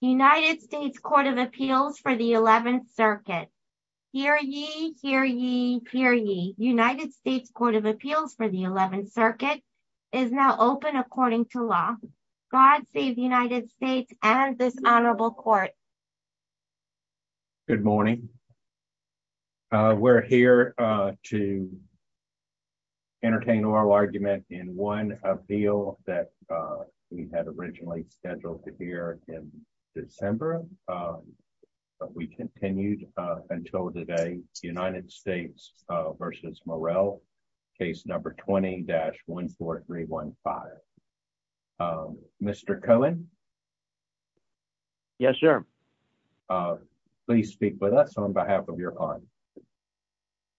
United States Court of Appeals for the 11th Circuit. Hear ye, hear ye, hear ye. United States Court of Appeals for the 11th Circuit is now open according to law. God save the United States and this honorable court. Good morning. We're here to entertain oral argument in one appeal that we had originally scheduled to hear in December, but we continued until today. United States v. Morel, case number 20-14315. Mr. Cohen? Yes, sir. Please speak with us on behalf of your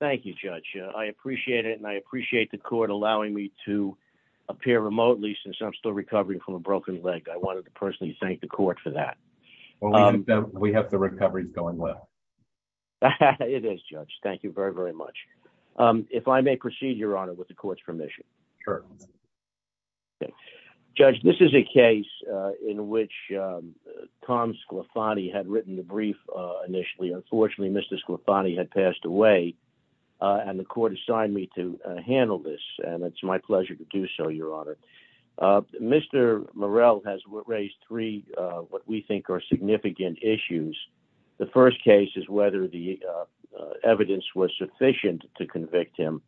I'm still recovering from a broken leg. I wanted to personally thank the court for that. We have the recoveries going well. It is, Judge. Thank you very, very much. If I may proceed, Your Honor, with the court's permission. Sure. Judge, this is a case in which Tom Sclafani had written the brief initially. Unfortunately, Mr. Sclafani had passed away and the court assigned me to handle this, and it's my pleasure to do so, Your Honor. Mr. Morel has raised three what we think are significant issues. The first case is whether the evidence was sufficient to convict him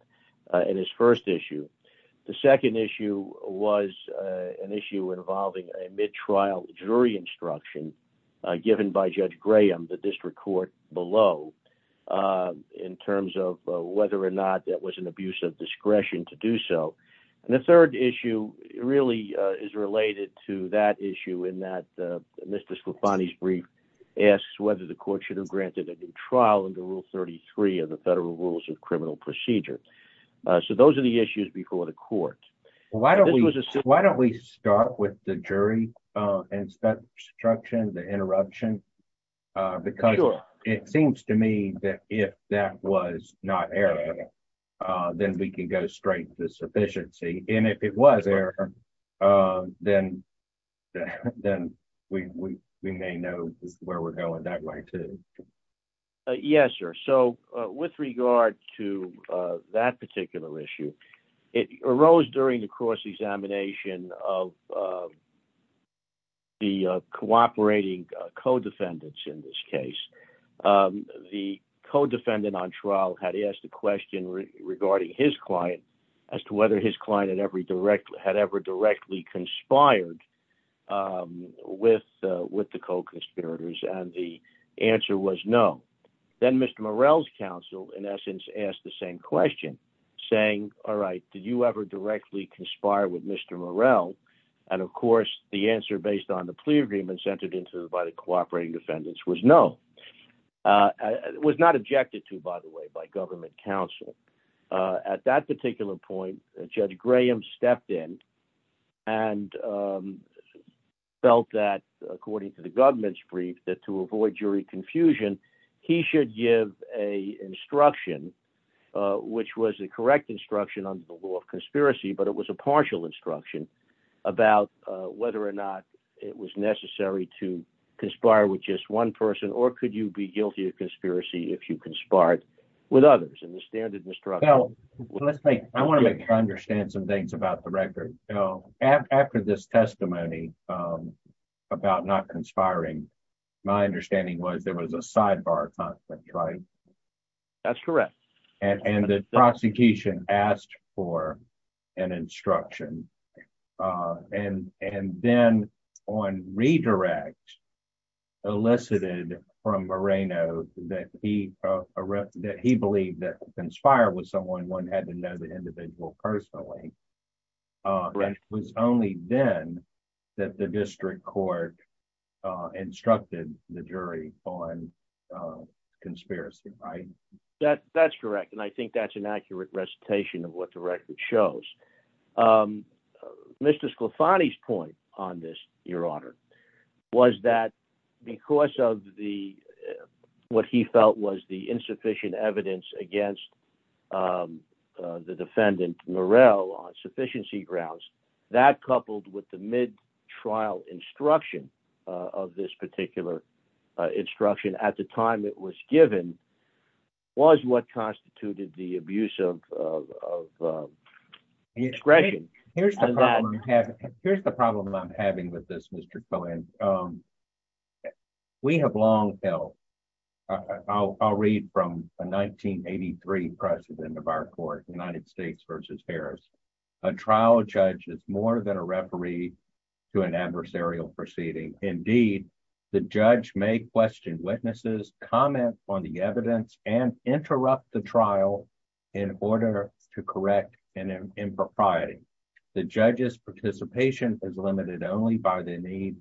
in his first issue. The second issue was an issue involving a mid-trial jury instruction given by Judge Graham, the district court below, uh, in terms of whether or not that was an abuse of discretion to do so. And the third issue really is related to that issue in that Mr. Sclafani's brief asks whether the court should have granted a new trial under Rule 33 of the Federal Rules of Criminal Procedure. So those are the issues before the court. Why don't we start with the jury instruction, the interruption, because it seems to me that if that was not error, then we can go straight to sufficiency. And if it was error, then we may know where we're going that way too. Yes, sir. So with regard to that particular issue, it arose during the cross examination of the cooperating co-defendants in this case. The co-defendant on trial had asked a question regarding his client as to whether his client had ever directly conspired with the co-conspirators, and the answer was no. Then Mr. Morel's counsel, in essence, asked the same question, saying, all right, did you ever directly conspire with Mr. Morel? And of course, the answer based on the plea agreements entered into by the cooperating defendants was no. It was not objected to, by the way, by government counsel. At that particular point, Judge Graham stepped in and felt that, according to the government's confusion, he should give an instruction, which was the correct instruction under the law of conspiracy, but it was a partial instruction about whether or not it was necessary to conspire with just one person, or could you be guilty of conspiracy if you conspired with others? And the standard instruction... Well, I want to make sure I understand some things about the record. After this testimony about not conspiring, my understanding was there was a sidebar conflict, right? That's correct. And the prosecution asked for an instruction, and then on redirect, elicited from Moreno that he believed that conspired with someone, one had to know the individual personally. It was only then that district court instructed the jury on conspiracy, right? That's correct, and I think that's an accurate recitation of what the record shows. Mr. Sclafani's point on this, Your Honor, was that because of what he felt was the insufficient evidence against the defendant, Morel, on sufficiency grounds, that coupled with the mid-trial instruction of this particular instruction at the time it was given, was what constituted the abuse of discretion. Here's the problem I'm having with this, Mr. Cohen. We have long held... I'll read from a 1983 precedent of our court, United States versus Harris. A trial judge is more than a referee to an adversarial proceeding. Indeed, the judge may question witnesses, comment on the evidence, and interrupt the trial in order to correct an impropriety. The judge's participation is limited only by the need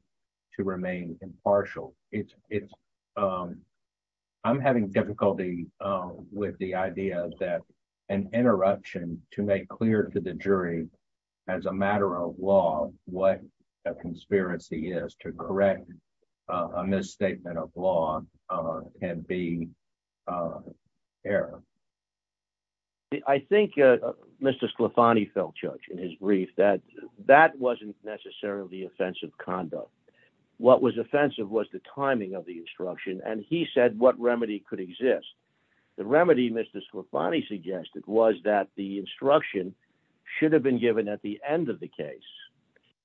to remain impartial. I'm having difficulty with the idea that an interruption to make clear to the jury, as a matter of law, what a conspiracy is to correct a misstatement of law can be error. I think Mr. Sclafani felt, Judge, in his brief, that that wasn't necessarily offensive conduct. What was offensive was the timing of the instruction, and he said what remedy could exist. The remedy Mr. Sclafani suggested was that the instruction should have been given at the end of the case,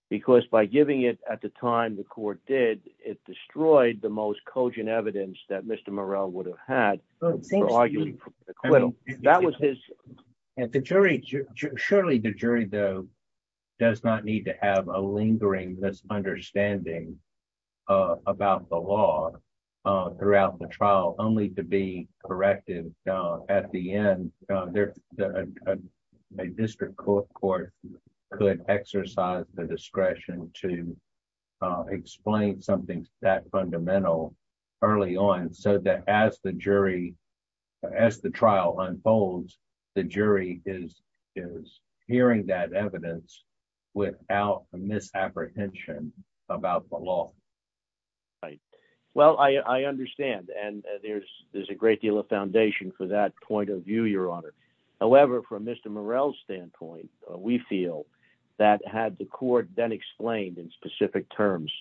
because by giving it at the time the court did, it destroyed the most cogent evidence that Mr. Morrell would have had for arguing for acquittal. That was his... Surely the jury, though, does not need to have a lingering misunderstanding about the law throughout the trial, only to be corrected at the end. A district court could exercise the discretion to explain something that fundamental early on, so that as the trial unfolds, the jury is hearing that evidence without a misapprehension about the law. Right. Well, I understand, and there's a great deal of foundation for that point of view, Your Honor. However, from Mr. Morrell's standpoint, we feel that had the court then explained in specific terms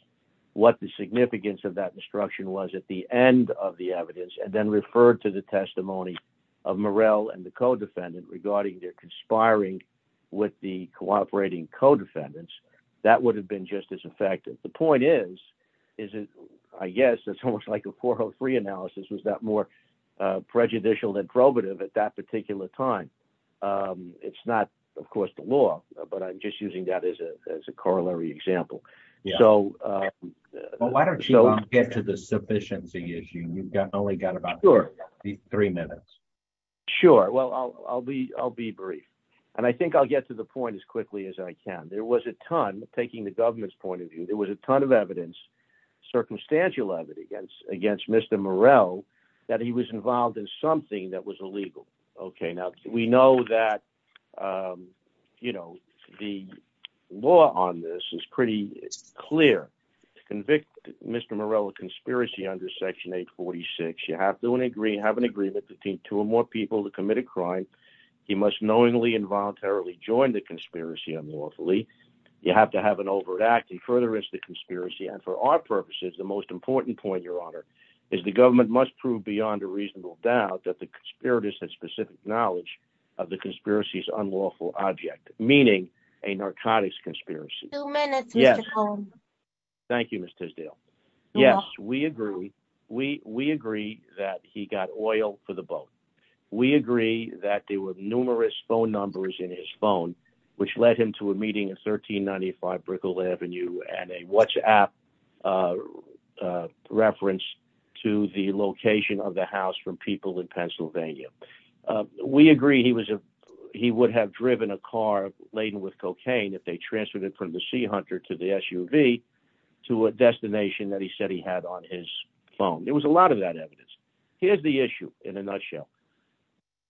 what the significance of that instruction was at the end of the evidence, and then referred to the testimony of Morrell and the co-defendant regarding their conspiring with the cooperating co-defendants, that would have been just as effective. The point is, I guess it's almost like a 403 analysis was that more prejudicial than probative at that time. It's not, of course, the law, but I'm just using that as a corollary example. Well, why don't you get to the sufficiency issue? You've only got about three minutes. Sure. Well, I'll be brief, and I think I'll get to the point as quickly as I can. There was a ton, taking the government's point of view, there was a ton of evidence, circumstantial evidence, against Mr. Morrell that he was involved in something that was illegal. Now, we know that the law on this is pretty clear. To convict Mr. Morrell of conspiracy under Section 846, you have to have an agreement between two or more people to commit a crime. He must knowingly and voluntarily join the conspiracy unlawfully. You have to have an agreement. And for our purposes, the most important point, Your Honor, is the government must prove beyond a reasonable doubt that the conspirators had specific knowledge of the conspiracy's unlawful object, meaning a narcotics conspiracy. Thank you, Ms. Tisdale. Yes, we agree. We agree that he got oil for the boat. We agree that there were numerous phone numbers in his phone, which led him to a meeting at 1395 Brickell Avenue and a WhatsApp reference to the location of the house from people in Pennsylvania. We agree he would have driven a car laden with cocaine if they transferred it from the Sea Hunter to the SUV to a destination that he said he had on his phone. There was a lot of that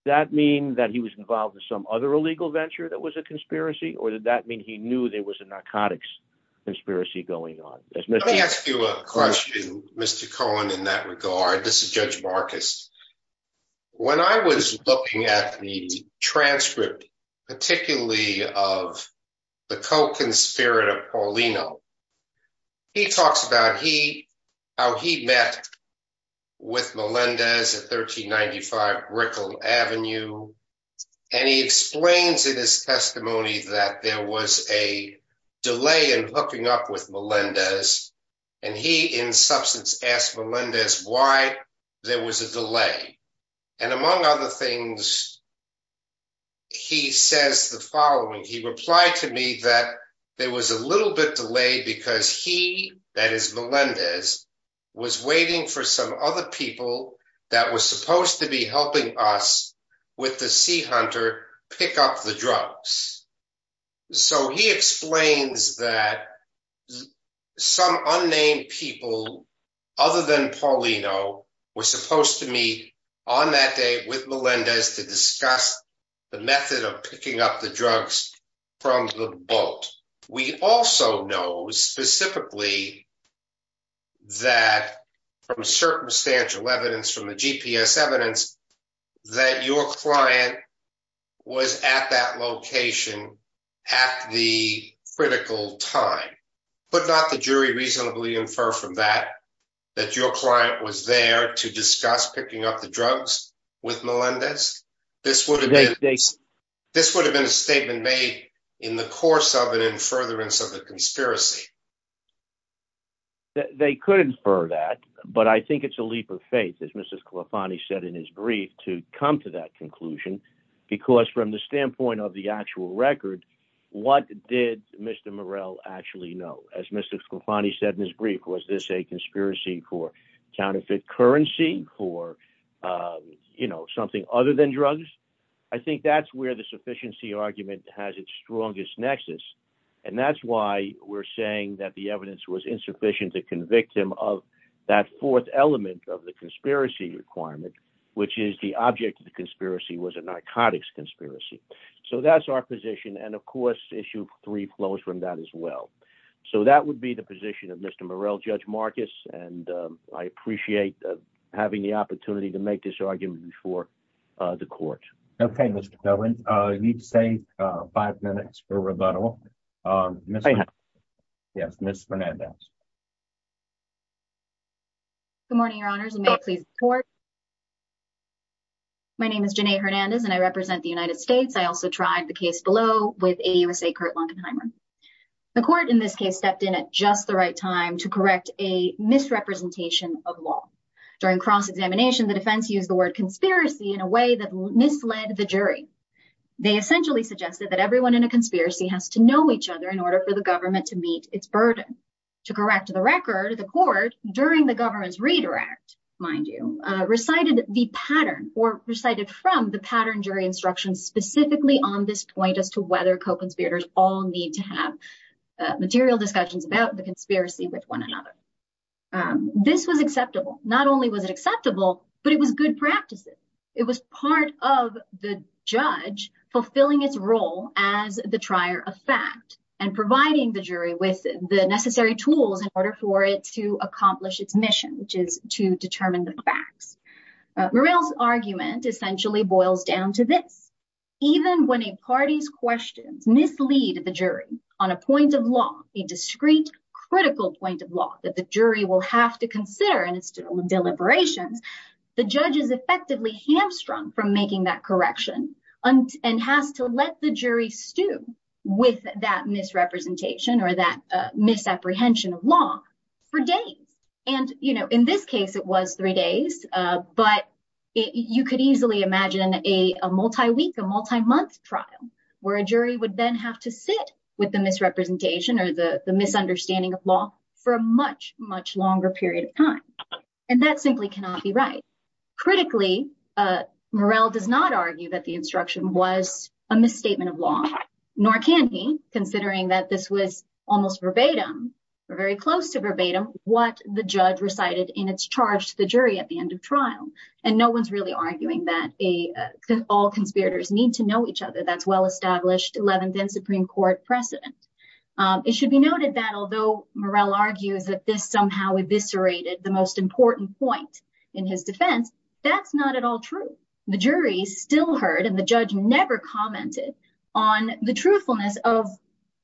That mean that he was involved with some other illegal venture that was a conspiracy, or did that mean he knew there was a narcotics conspiracy going on? Let me ask you a question, Mr. Cohen, in that regard. This is Judge Marcus. When I was looking at the transcript, particularly of the co-conspirator Paulino, he talks about how he met with Melendez at 1395 Brickell Avenue. He explains in his testimony that there was a delay in hooking up with Melendez. He, in substance, asked Melendez why there was a delay. Among other things, he says the following. He replied to me that there was a little bit delayed because he, that is Melendez, was waiting for some other people that were supposed to be helping us with the Sea Hunter pick up the drugs. So he explains that some unnamed people other than Paulino were supposed to meet on that day with Melendez to We also know specifically that from circumstantial evidence, from the GPS evidence, that your client was at that location at the critical time. Could not the jury reasonably infer from that that your client was there to discuss picking up the drugs with Melendez? This would have been a statement made in the course of an in furtherance of the conspiracy. They could infer that, but I think it's a leap of faith, as Mr. Scalfani said in his brief, to come to that conclusion. Because from the standpoint of the actual record, what did Mr. Morell actually know? As Mr. Scalfani said in his brief, was this a conspiracy for something other than drugs? I think that's where the sufficiency argument has its strongest nexus. And that's why we're saying that the evidence was insufficient to convict him of that fourth element of the conspiracy requirement, which is the object of the conspiracy was a narcotics conspiracy. So that's our position. And of course, issue three flows from that as well. So that would be the position of Mr. Morell, Judge Marcus. And I appreciate having the opportunity to make this argument before the court. Okay, Mr. Cohen, you need to say five minutes for rebuttal. Yes, Ms. Hernandez. Good morning, your honors, and may it please the court. My name is Janae Hernandez, and I represent the United States. I also tried the case below with AUSA Kurt Langenheimer. The court in this case stepped in at just the right time to correct a misrepresentation of law. During cross-examination, the defense used the word conspiracy in a way that misled the jury. They essentially suggested that everyone in a conspiracy has to know each other in order for the government to meet its burden. To correct the record, the court, during the government's redirect, mind you, recited the pattern or recited from the pattern jury instruction specifically on this point as to whether co-conspirators all need to have material discussions about the conspiracy with one another. This was acceptable. Not only was it acceptable, but it was good practices. It was part of the judge fulfilling its role as the trier of fact and providing the jury with the necessary tools in order for it to accomplish its mission, which is to determine the facts. Morell's argument essentially boils down to this. Even when a party's questions mislead the jury on a point of law, a discrete critical point of law that the jury will have to consider in its deliberations, the judge is effectively hamstrung from making that correction and has to let the jury stew with that misrepresentation or that misapprehension of law for days. In this case, it was three days, but you could easily imagine a multi-week, a multi-month trial where a jury would then have to sit with the misrepresentation or the misunderstanding of law for a much, much longer period of time. And that simply cannot be right. Critically, Morell does not argue that the instruction was a misstatement of law, nor can he, considering that this was almost verbatim or very close to verbatim, what the judge recited in its jury at the end of trial. And no one's really arguing that all conspirators need to know each other. That's well-established 11th and Supreme Court precedent. It should be noted that although Morell argues that this somehow eviscerated the most important point in his defense, that's not at all true. The jury still heard and the judge never commented on the truthfulness of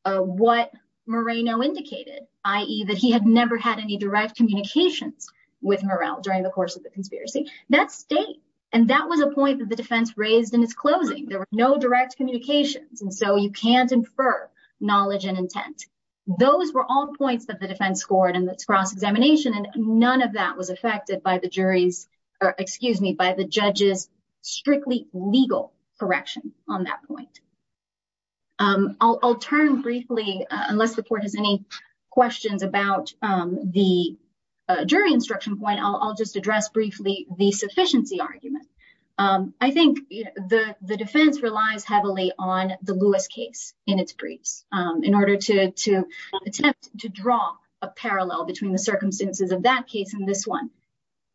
what Moreno indicated, i.e. that he had never had any direct communications with Morell during the course of the conspiracy. That's state, and that was a point that the defense raised in its closing. There were no direct communications, and so you can't infer knowledge and intent. Those were all points that the defense scored in its cross-examination, and none of that was affected by the jury's, or excuse me, by the judge's strictly legal correction on that point. I'll turn briefly, unless the court has any questions about the jury instruction point, I'll just address briefly the sufficiency argument. I think the defense relies heavily on the Lewis case in its briefs in order to attempt to draw a parallel between the circumstances of that case and this one,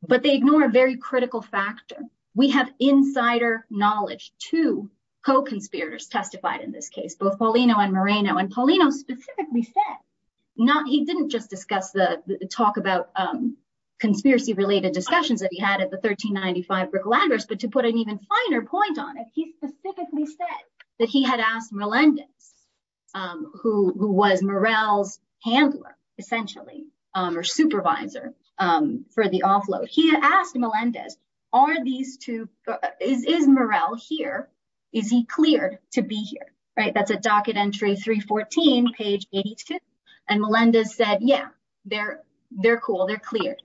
but they ignore a very critical factor. We have insider knowledge. Two co-conspirators testified in this case, both Paulino and Moreno, and Paulino specifically said not, he didn't just discuss the talk about conspiracy-related discussions that he had at the 1395 Brickell Address, but to put an even finer point on it, he specifically said that he had asked Melendez, who was Morell's handler, essentially, or supervisor for the offload. He had asked Melendez, are these two, is Morell here? Is he cleared to be here? That's at docket entry 314, page 82, and Melendez said, yeah, they're cool, they're cleared.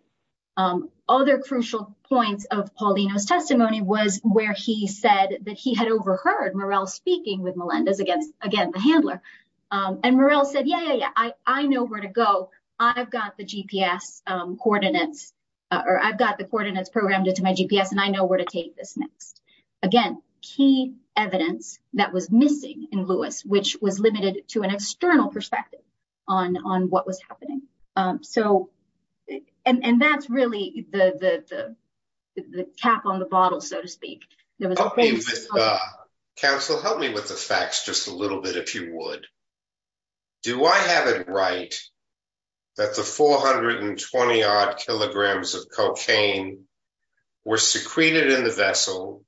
Other crucial points of Paulino's testimony was where he said that he had overheard Morell speaking with Melendez, again, the handler, and Morell said, yeah, yeah, yeah, I know where to go. I've got the GPS coordinates, or I've got the coordinates programmed into my GPS, and I know where to take this next. Again, key evidence that was missing in Lewis, which was limited to an external perspective on what was happening. So, and that's really the cap on the bottle, so to speak. Counsel, help me with the facts just a little bit, if you would. Do I have it right that the 420-odd kilograms of cocaine were secreted in the vessel,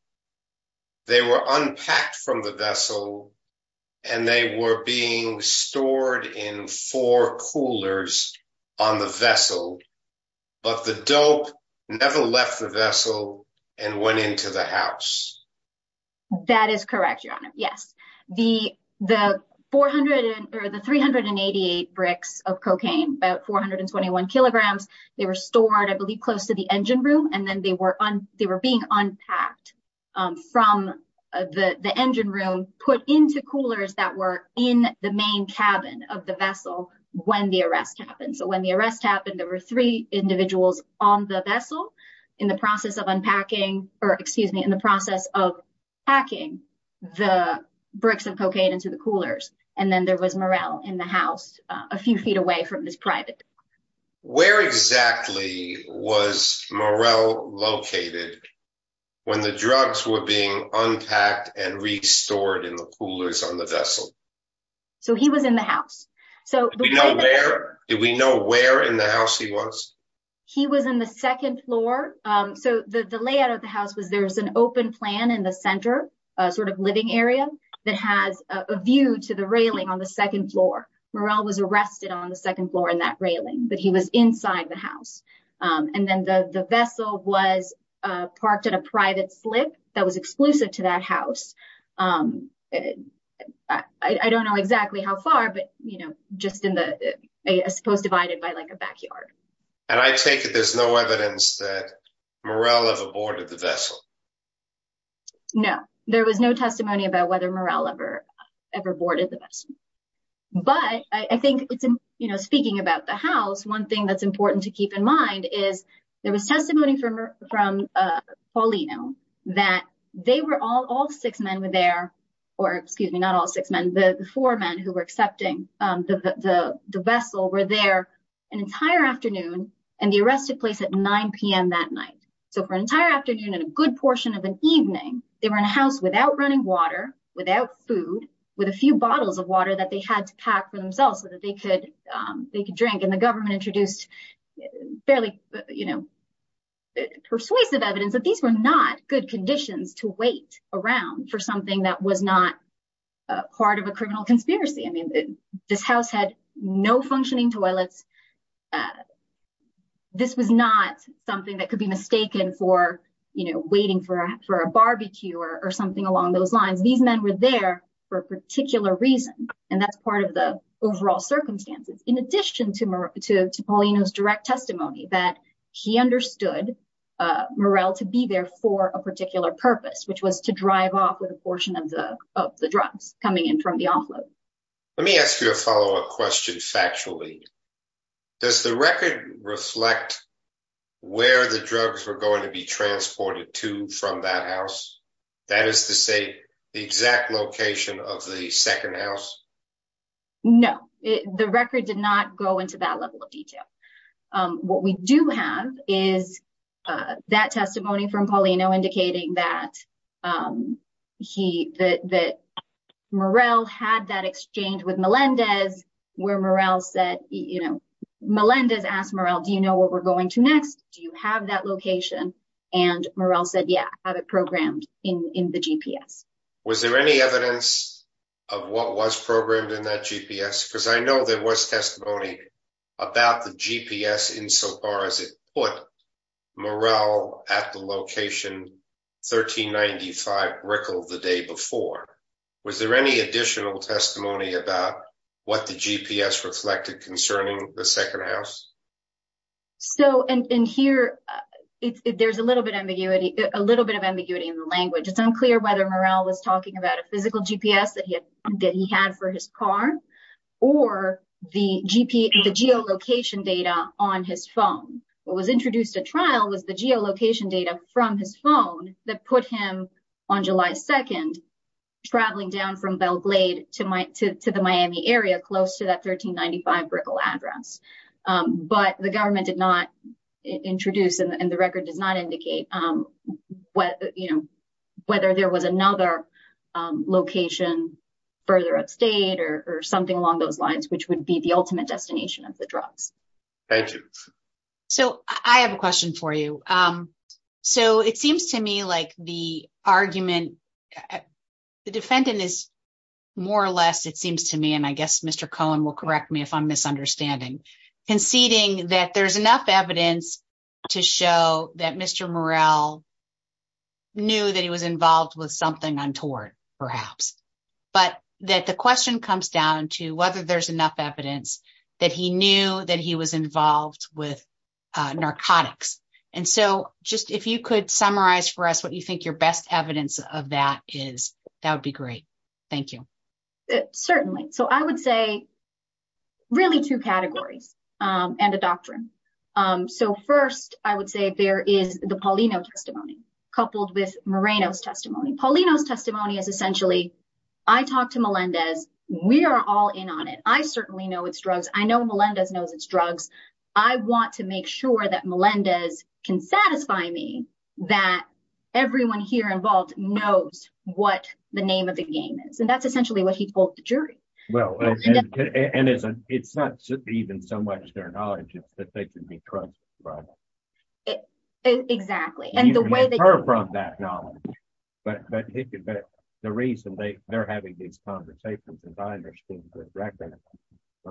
they were unpacked from the vessel, and they were being stored in four coolers on the vessel, but the dope never left the vessel and went into the house? That is correct, Your Honor, yes. The 388 bricks of cocaine, about 421 kilograms, they were stored, I believe, close to the engine room, and then they were being unpacked from the engine room, put into coolers that were in the main cabin of the vessel when the arrest happened. So when the arrest happened, there were three individuals on the process of packing the bricks of cocaine into the coolers, and then there was Morel in the house, a few feet away from his private. Where exactly was Morel located when the drugs were being unpacked and restored in the coolers on the vessel? So he was in the house. Did we know where in the house he was? He was in the second floor. So the layout of the house was there's an open plan in the center, a sort of living area that has a view to the railing on the second floor. Morel was arrested on the second floor in that railing, but he was inside the house. And then the vessel was parked at a private slip that was exclusive to that house. I don't know exactly how far, but just in the, I suppose divided by like a backyard. And I take it there's no evidence that Morel ever boarded the vessel? No, there was no testimony about whether Morel ever boarded the vessel. But I think it's, you know, speaking about the house, one thing that's important to keep in mind is there was testimony from Paulino that they were all, all six men were there, or excuse me, not all six men, the four men who were accepting the vessel were there an entire afternoon and the arrest took place at 9 p.m. that night. So for an entire afternoon and a good portion of an evening, they were in a house without running water, without food, with a few bottles of water that they had to pack for themselves so that they could drink. And the government introduced barely, you know, persuasive evidence that these were not good conditions to live in. And that this was not part of a criminal conspiracy. I mean, this house had no functioning toilets. This was not something that could be mistaken for, you know, waiting for a barbecue or something along those lines. These men were there for a particular reason. And that's part of the overall circumstances. In addition to Morel, to Paulino's direct testimony that he understood Morel to be there for a particular purpose, which was to drive off with a portion of the of the drugs coming in from the offload. Let me ask you a follow-up question factually. Does the record reflect where the drugs were going to be transported to from that house? That is to say, the exact location of the second house? No, the record did not go into that level detail. What we do have is that testimony from Paulino indicating that Morel had that exchange with Melendez, where Morel said, you know, Melendez asked Morel, do you know what we're going to next? Do you have that location? And Morel said, yeah, I have it programmed in the GPS. Was there any the GPS insofar as it put Morel at the location 1395 Brickell the day before? Was there any additional testimony about what the GPS reflected concerning the second house? So in here, there's a little bit ambiguity, a little bit of ambiguity in the language. It's unclear whether Morel was talking about a physical GPS that he had that he had for his car, or the geolocation data on his phone. What was introduced at trial was the geolocation data from his phone that put him, on July 2nd, traveling down from Belle Glade to the Miami area, close to that 1395 Brickell address. But the government did not introduce, and the record does not indicate, you know, whether there was another location further upstate or something along those lines, which would be the ultimate destination of the drugs. Thank you. So I have a question for you. So it seems to me like the argument, the defendant is more or less, it seems to me, and I guess Mr. Cohen will correct me if I'm misunderstanding, conceding that there's enough evidence to show that Mr. Morel knew that he was involved with something untoward, perhaps, but that the question comes down to whether there's enough evidence that he knew that he was involved with narcotics. And so just if you could summarize for us what you think your best evidence of that is, that would be great. Thank you. Certainly. So I would say really two categories and a doctrine. So first, I would say there is the Paulino testimony, coupled with Moreno's testimony. Paulino's testimony is essentially, I talked to Melendez, we are all in on it, I certainly know it's drugs, I know Melendez knows it's drugs, I want to make sure that Melendez can satisfy me that everyone here involved knows what the name of the game is. And that's essentially what he told the jury. Well, and it's not even so much their knowledge, it's that they can be trusted, right? Exactly. And the way that you can infer from that knowledge, but the reason they're having these conversations, as I understand the record,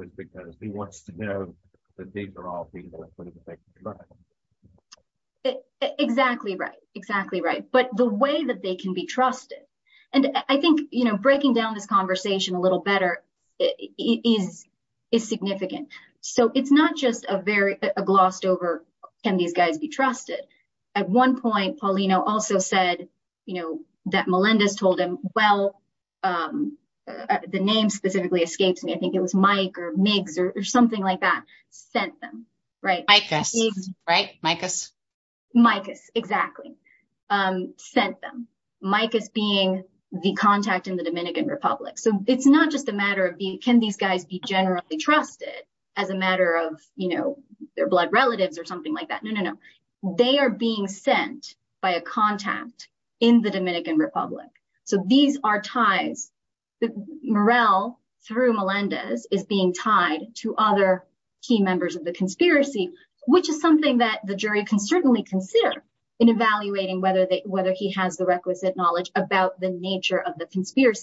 is because he wants to know that these are all people that believe that they can be trusted. Exactly right, exactly right. But the this conversation a little better is significant. So it's not just a very glossed over, can these guys be trusted? At one point, Paulino also said, you know, that Melendez told him, well, the name specifically escapes me, I think it was Mike or Migs or something like that, sent them, right? Micas, right? Micas. Micas, exactly. Sent them. Micas being the contact in the Dominican Republic. So it's not just a matter of being, can these guys be generally trusted as a matter of, you know, their blood relatives or something like that? No, no, no. They are being sent by a contact in the Dominican Republic. So these are ties. Murrell, through Melendez, is being tied to other key members of the conspiracy, which is something that the jury can certainly consider in evaluating whether they whether he has the requisite knowledge about the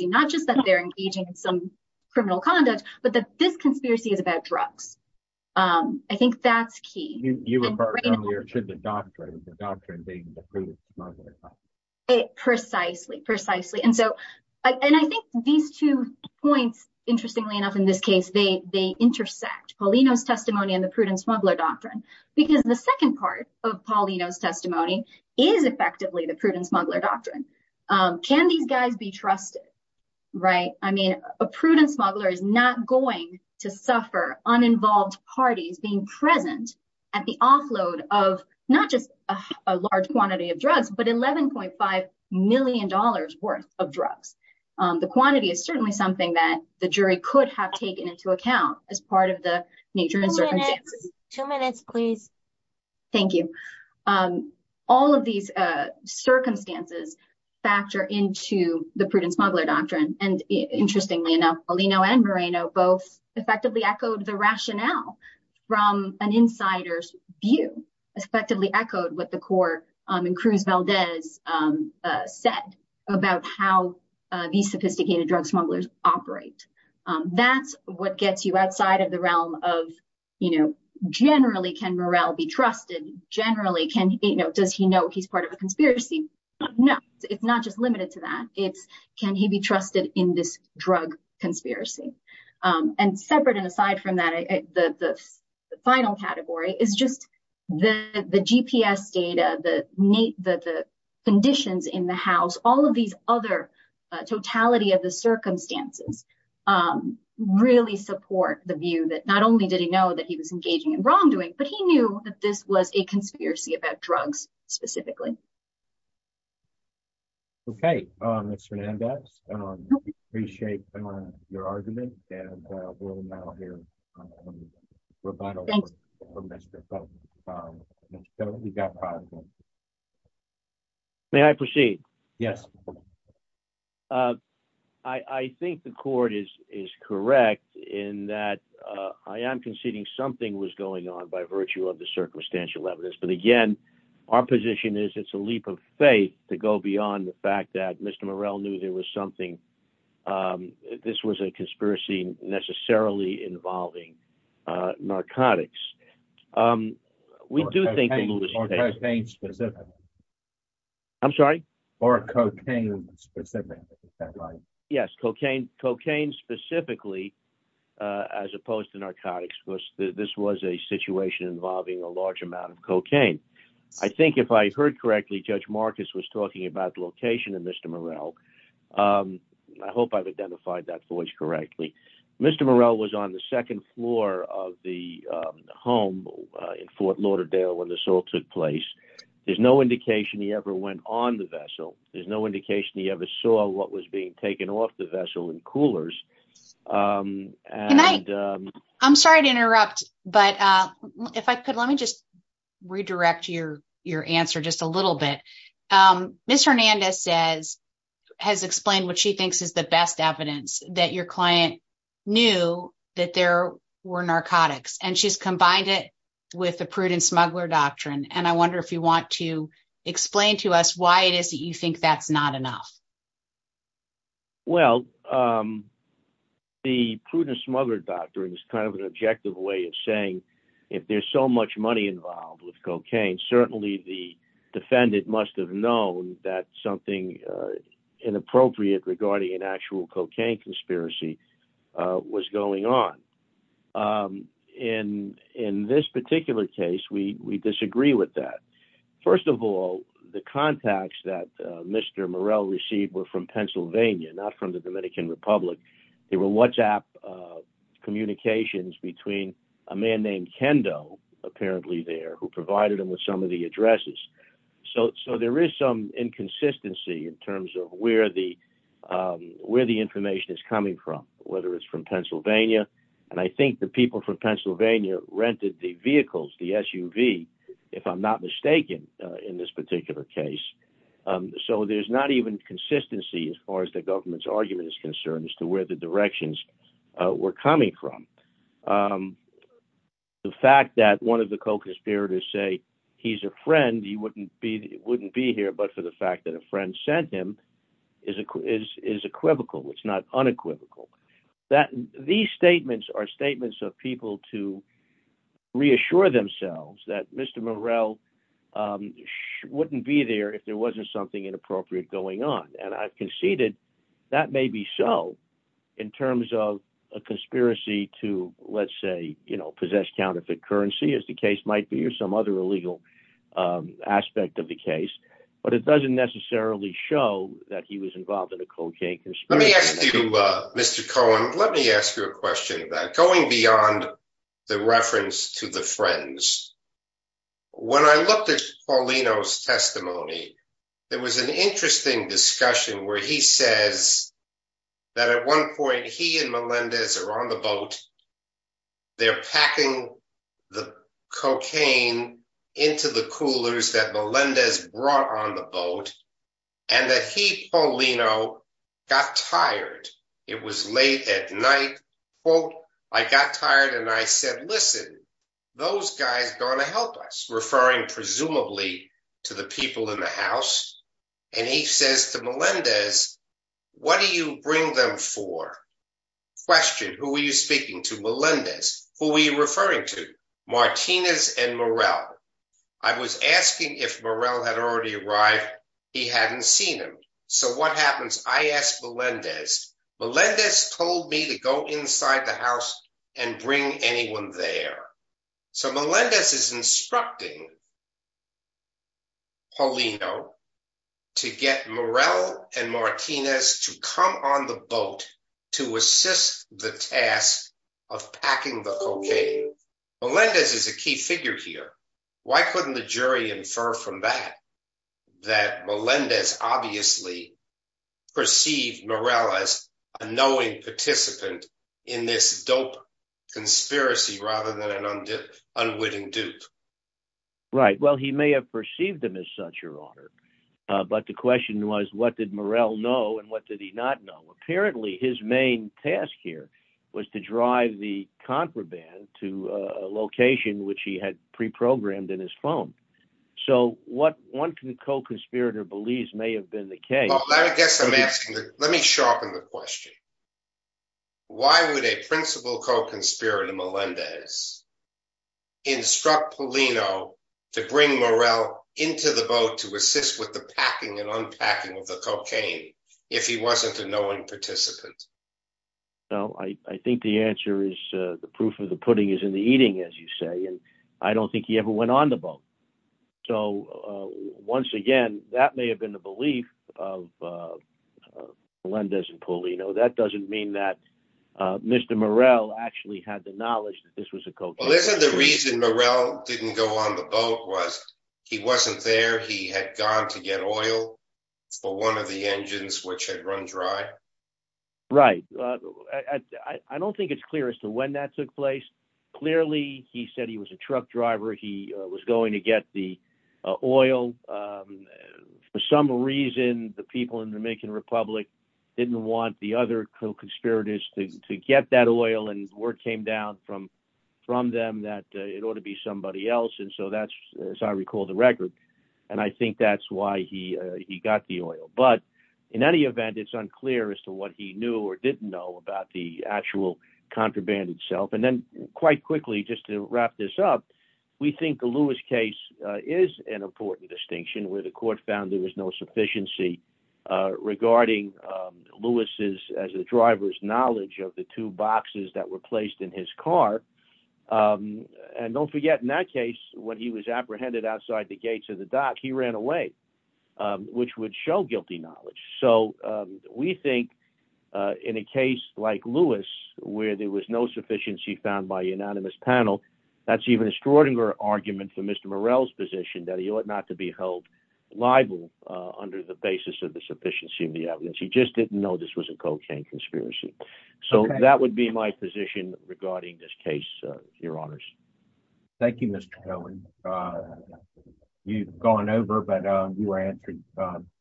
not just that they're engaging in some criminal conduct, but that this conspiracy is about drugs. I think that's key. You refer to the doctrine, the doctrine being the prudent smuggler. Precisely, precisely. And so, and I think these two points, interestingly enough, in this case, they intersect Paulino's testimony and the prudent smuggler doctrine, because the second part of Paulino's testimony is effectively the prudent smuggler doctrine. Can these guys be trusted? Right. I mean, a prudent smuggler is not going to suffer uninvolved parties being present at the offload of not just a large quantity of drugs, but eleven point five million dollars worth of drugs. The quantity is certainly something that the jury could have taken into account as part of the nature and circumstances. Two minutes, please. Thank you. All of these circumstances factor into the prudent smuggler doctrine. And interestingly enough, Paulino and Moreno both effectively echoed the rationale from an insider's view, effectively echoed what the court in Cruz Valdez said about how these sophisticated drug smugglers operate. That's what gets you outside of the realm of, you know, generally can Morel be trusted? Generally, can he know, does he know he's part of a conspiracy? No, it's not just limited to that. It's can he be trusted in this drug conspiracy? And separate and aside from that, the final category is just the GPS data, the conditions in the house, all of these other totality of the circumstances really support the view that not only did he know he was engaging in wrongdoing, but he knew that this was a conspiracy about drugs specifically. Okay, Mr. Hernandez, I appreciate your argument. And we'll now hear rebuttal. We've got five. May I proceed? Yes. Uh, I think the court is is correct in that I am conceding something was going on by virtue of the circumstantial evidence. But again, our position is it's a leap of faith to go beyond the fact that Mr. Morel knew there was something. This was a conspiracy necessarily involving narcotics. Um, we do think I'm sorry, or cocaine. Yes, cocaine, cocaine specifically, as opposed to narcotics. This was a situation involving a large amount of cocaine. I think if I heard correctly, Judge Marcus was talking about the location of Mr. Morel. Um, I hope I've identified that voice correctly. Mr. Morel was on the second floor of the home in Fort Lauderdale when the assault took place. There's no indication he ever went on the vessel. There's no indication he ever saw what was being taken off the vessel and coolers. I'm sorry to interrupt. But if I could, let me just redirect your your answer just a little bit. Ms. Hernandez says, has explained what she thinks is the best evidence that your client knew that there were narcotics and she's combined it with the prudent smuggler doctrine. And I wonder if you want to explain to us why it is that you think that's not enough? Well, the prudent smuggler doctrine is kind of an objective way of saying, if there's so much money involved with cocaine, certainly the defendant must have known that something inappropriate regarding an actual cocaine conspiracy was going on. In this particular case, we disagree with that. First of all, the contacts that Mr. Morel received were from Pennsylvania, not from the Dominican Republic. They were WhatsApp communications between a man named Kendo, apparently there, who provided him with some of the addresses. So so there is some inconsistency in terms of where the where the information is coming from, whether it's from Pennsylvania. And I think the people from Pennsylvania rented the vehicles, the SUV, if I'm not mistaken, in this particular case. So there's not even consistency as far as the government's argument is concerned as to where the directions were coming from. The fact that one of the co-conspirators say he's a friend, he wouldn't be wouldn't be here, but for the fact that a friend sent him is is is equivocal. It's not unequivocal that these statements are statements of people to reassure themselves that Mr. Morel wouldn't be there if there wasn't something inappropriate going on. And I conceded that may be so in terms of a conspiracy to, let's say, you know, possess counterfeit currency, as the case might be, or some other illegal aspect of the case. But it doesn't necessarily show that he was involved in a cocaine conspiracy. Let me ask you, Mr. Cohen, let me ask you a question that going beyond the reference to the friends. When I looked at Paulino's testimony, there was an interesting discussion where he says that at one point he and Melendez are on the boat, they're packing the cocaine into the coolers that Melendez brought on the boat, and that he, Paulino, got tired. It was late at night. Well, I got tired. And I said, Listen, those guys going to help us referring presumably to the people in the house. And he says to Melendez, what do you bring them for? Question, who are you speaking to Melendez? Who are you referring to? Martinez and Morel? I was asking if Morel had already arrived. He hadn't seen him. So what happens? I asked Melendez, Melendez told me to go inside the house and bring anyone there. So Melendez is instructing Paulino to get Morel and Martinez to come on the boat to assist the task of packing the cocaine. Melendez is a key figure here. Why couldn't the jury infer from that? That Melendez obviously perceived Morel as a knowing participant in this dope conspiracy rather than an unwitting dupe? Right? Well, he may have perceived them as such, Your Honor. But the question was, what did Morel know? And what did he not know? Apparently, his main task here was to drive the contraband to a location which he had pre-programmed in his phone. So what one co-conspirator believes may have been the case. Well, I guess I'm asking, let me sharpen the question. Why would a principal co-conspirator, Melendez, instruct Paulino to bring Morel into the boat to assist with the packing and unpacking of the cocaine if he wasn't a knowing participant? Well, I think the answer is the proof of the pudding is in the eating, as you say, and I don't think he ever went on the boat. So once again, that may have been the belief of Melendez and Paulino. That doesn't mean that Mr. Morel actually had the knowledge that this was a co-conspirator. Well, isn't the reason Morel didn't go on the boat was he wasn't there, he had gone to get oil for one of the engines which had run dry? Right. I don't think it's clear as to when that took place. Clearly, he said he was a truck driver, he was going to get the oil. For some reason, the people in the Dominican Republic didn't want the other co-conspirators to get that oil and word came down from them that it ought to be somebody else. And so that's, as I recall, the record. And I think that's why he got the oil. But in any event, it's unclear as to what he knew or didn't know about the actual contraband itself. And then quite quickly, just to wrap this up, we think the Lewis case is an important distinction where the court found there was no sufficiency regarding Lewis's as a driver's knowledge of the two boxes that were placed in his car. And don't forget, in that case, when he was apprehended outside the gates of the dock, he ran away, which would show guilty knowledge. So we think in a case like Lewis, where there was no sufficiency found by unanimous panel, that's even a Schrodinger argument for Mr. Morel's position that he ought not to be held liable under the basis of the sufficiency of the evidence. He would be my position regarding this case, your honors. Thank you, Mr. Cohen. You've gone over, but you answered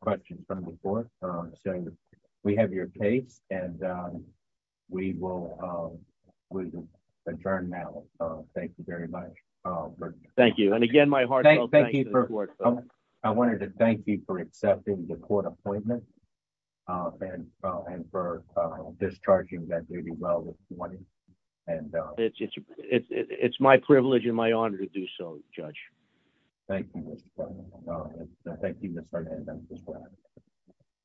questions from before. So we have your case and we will adjourn now. Thank you very much. Thank you. And again, my heart. Thank you. I wanted to thank you for wanting. And it's my privilege and my honor to do so, Judge. Thank you, Mr. Cohen.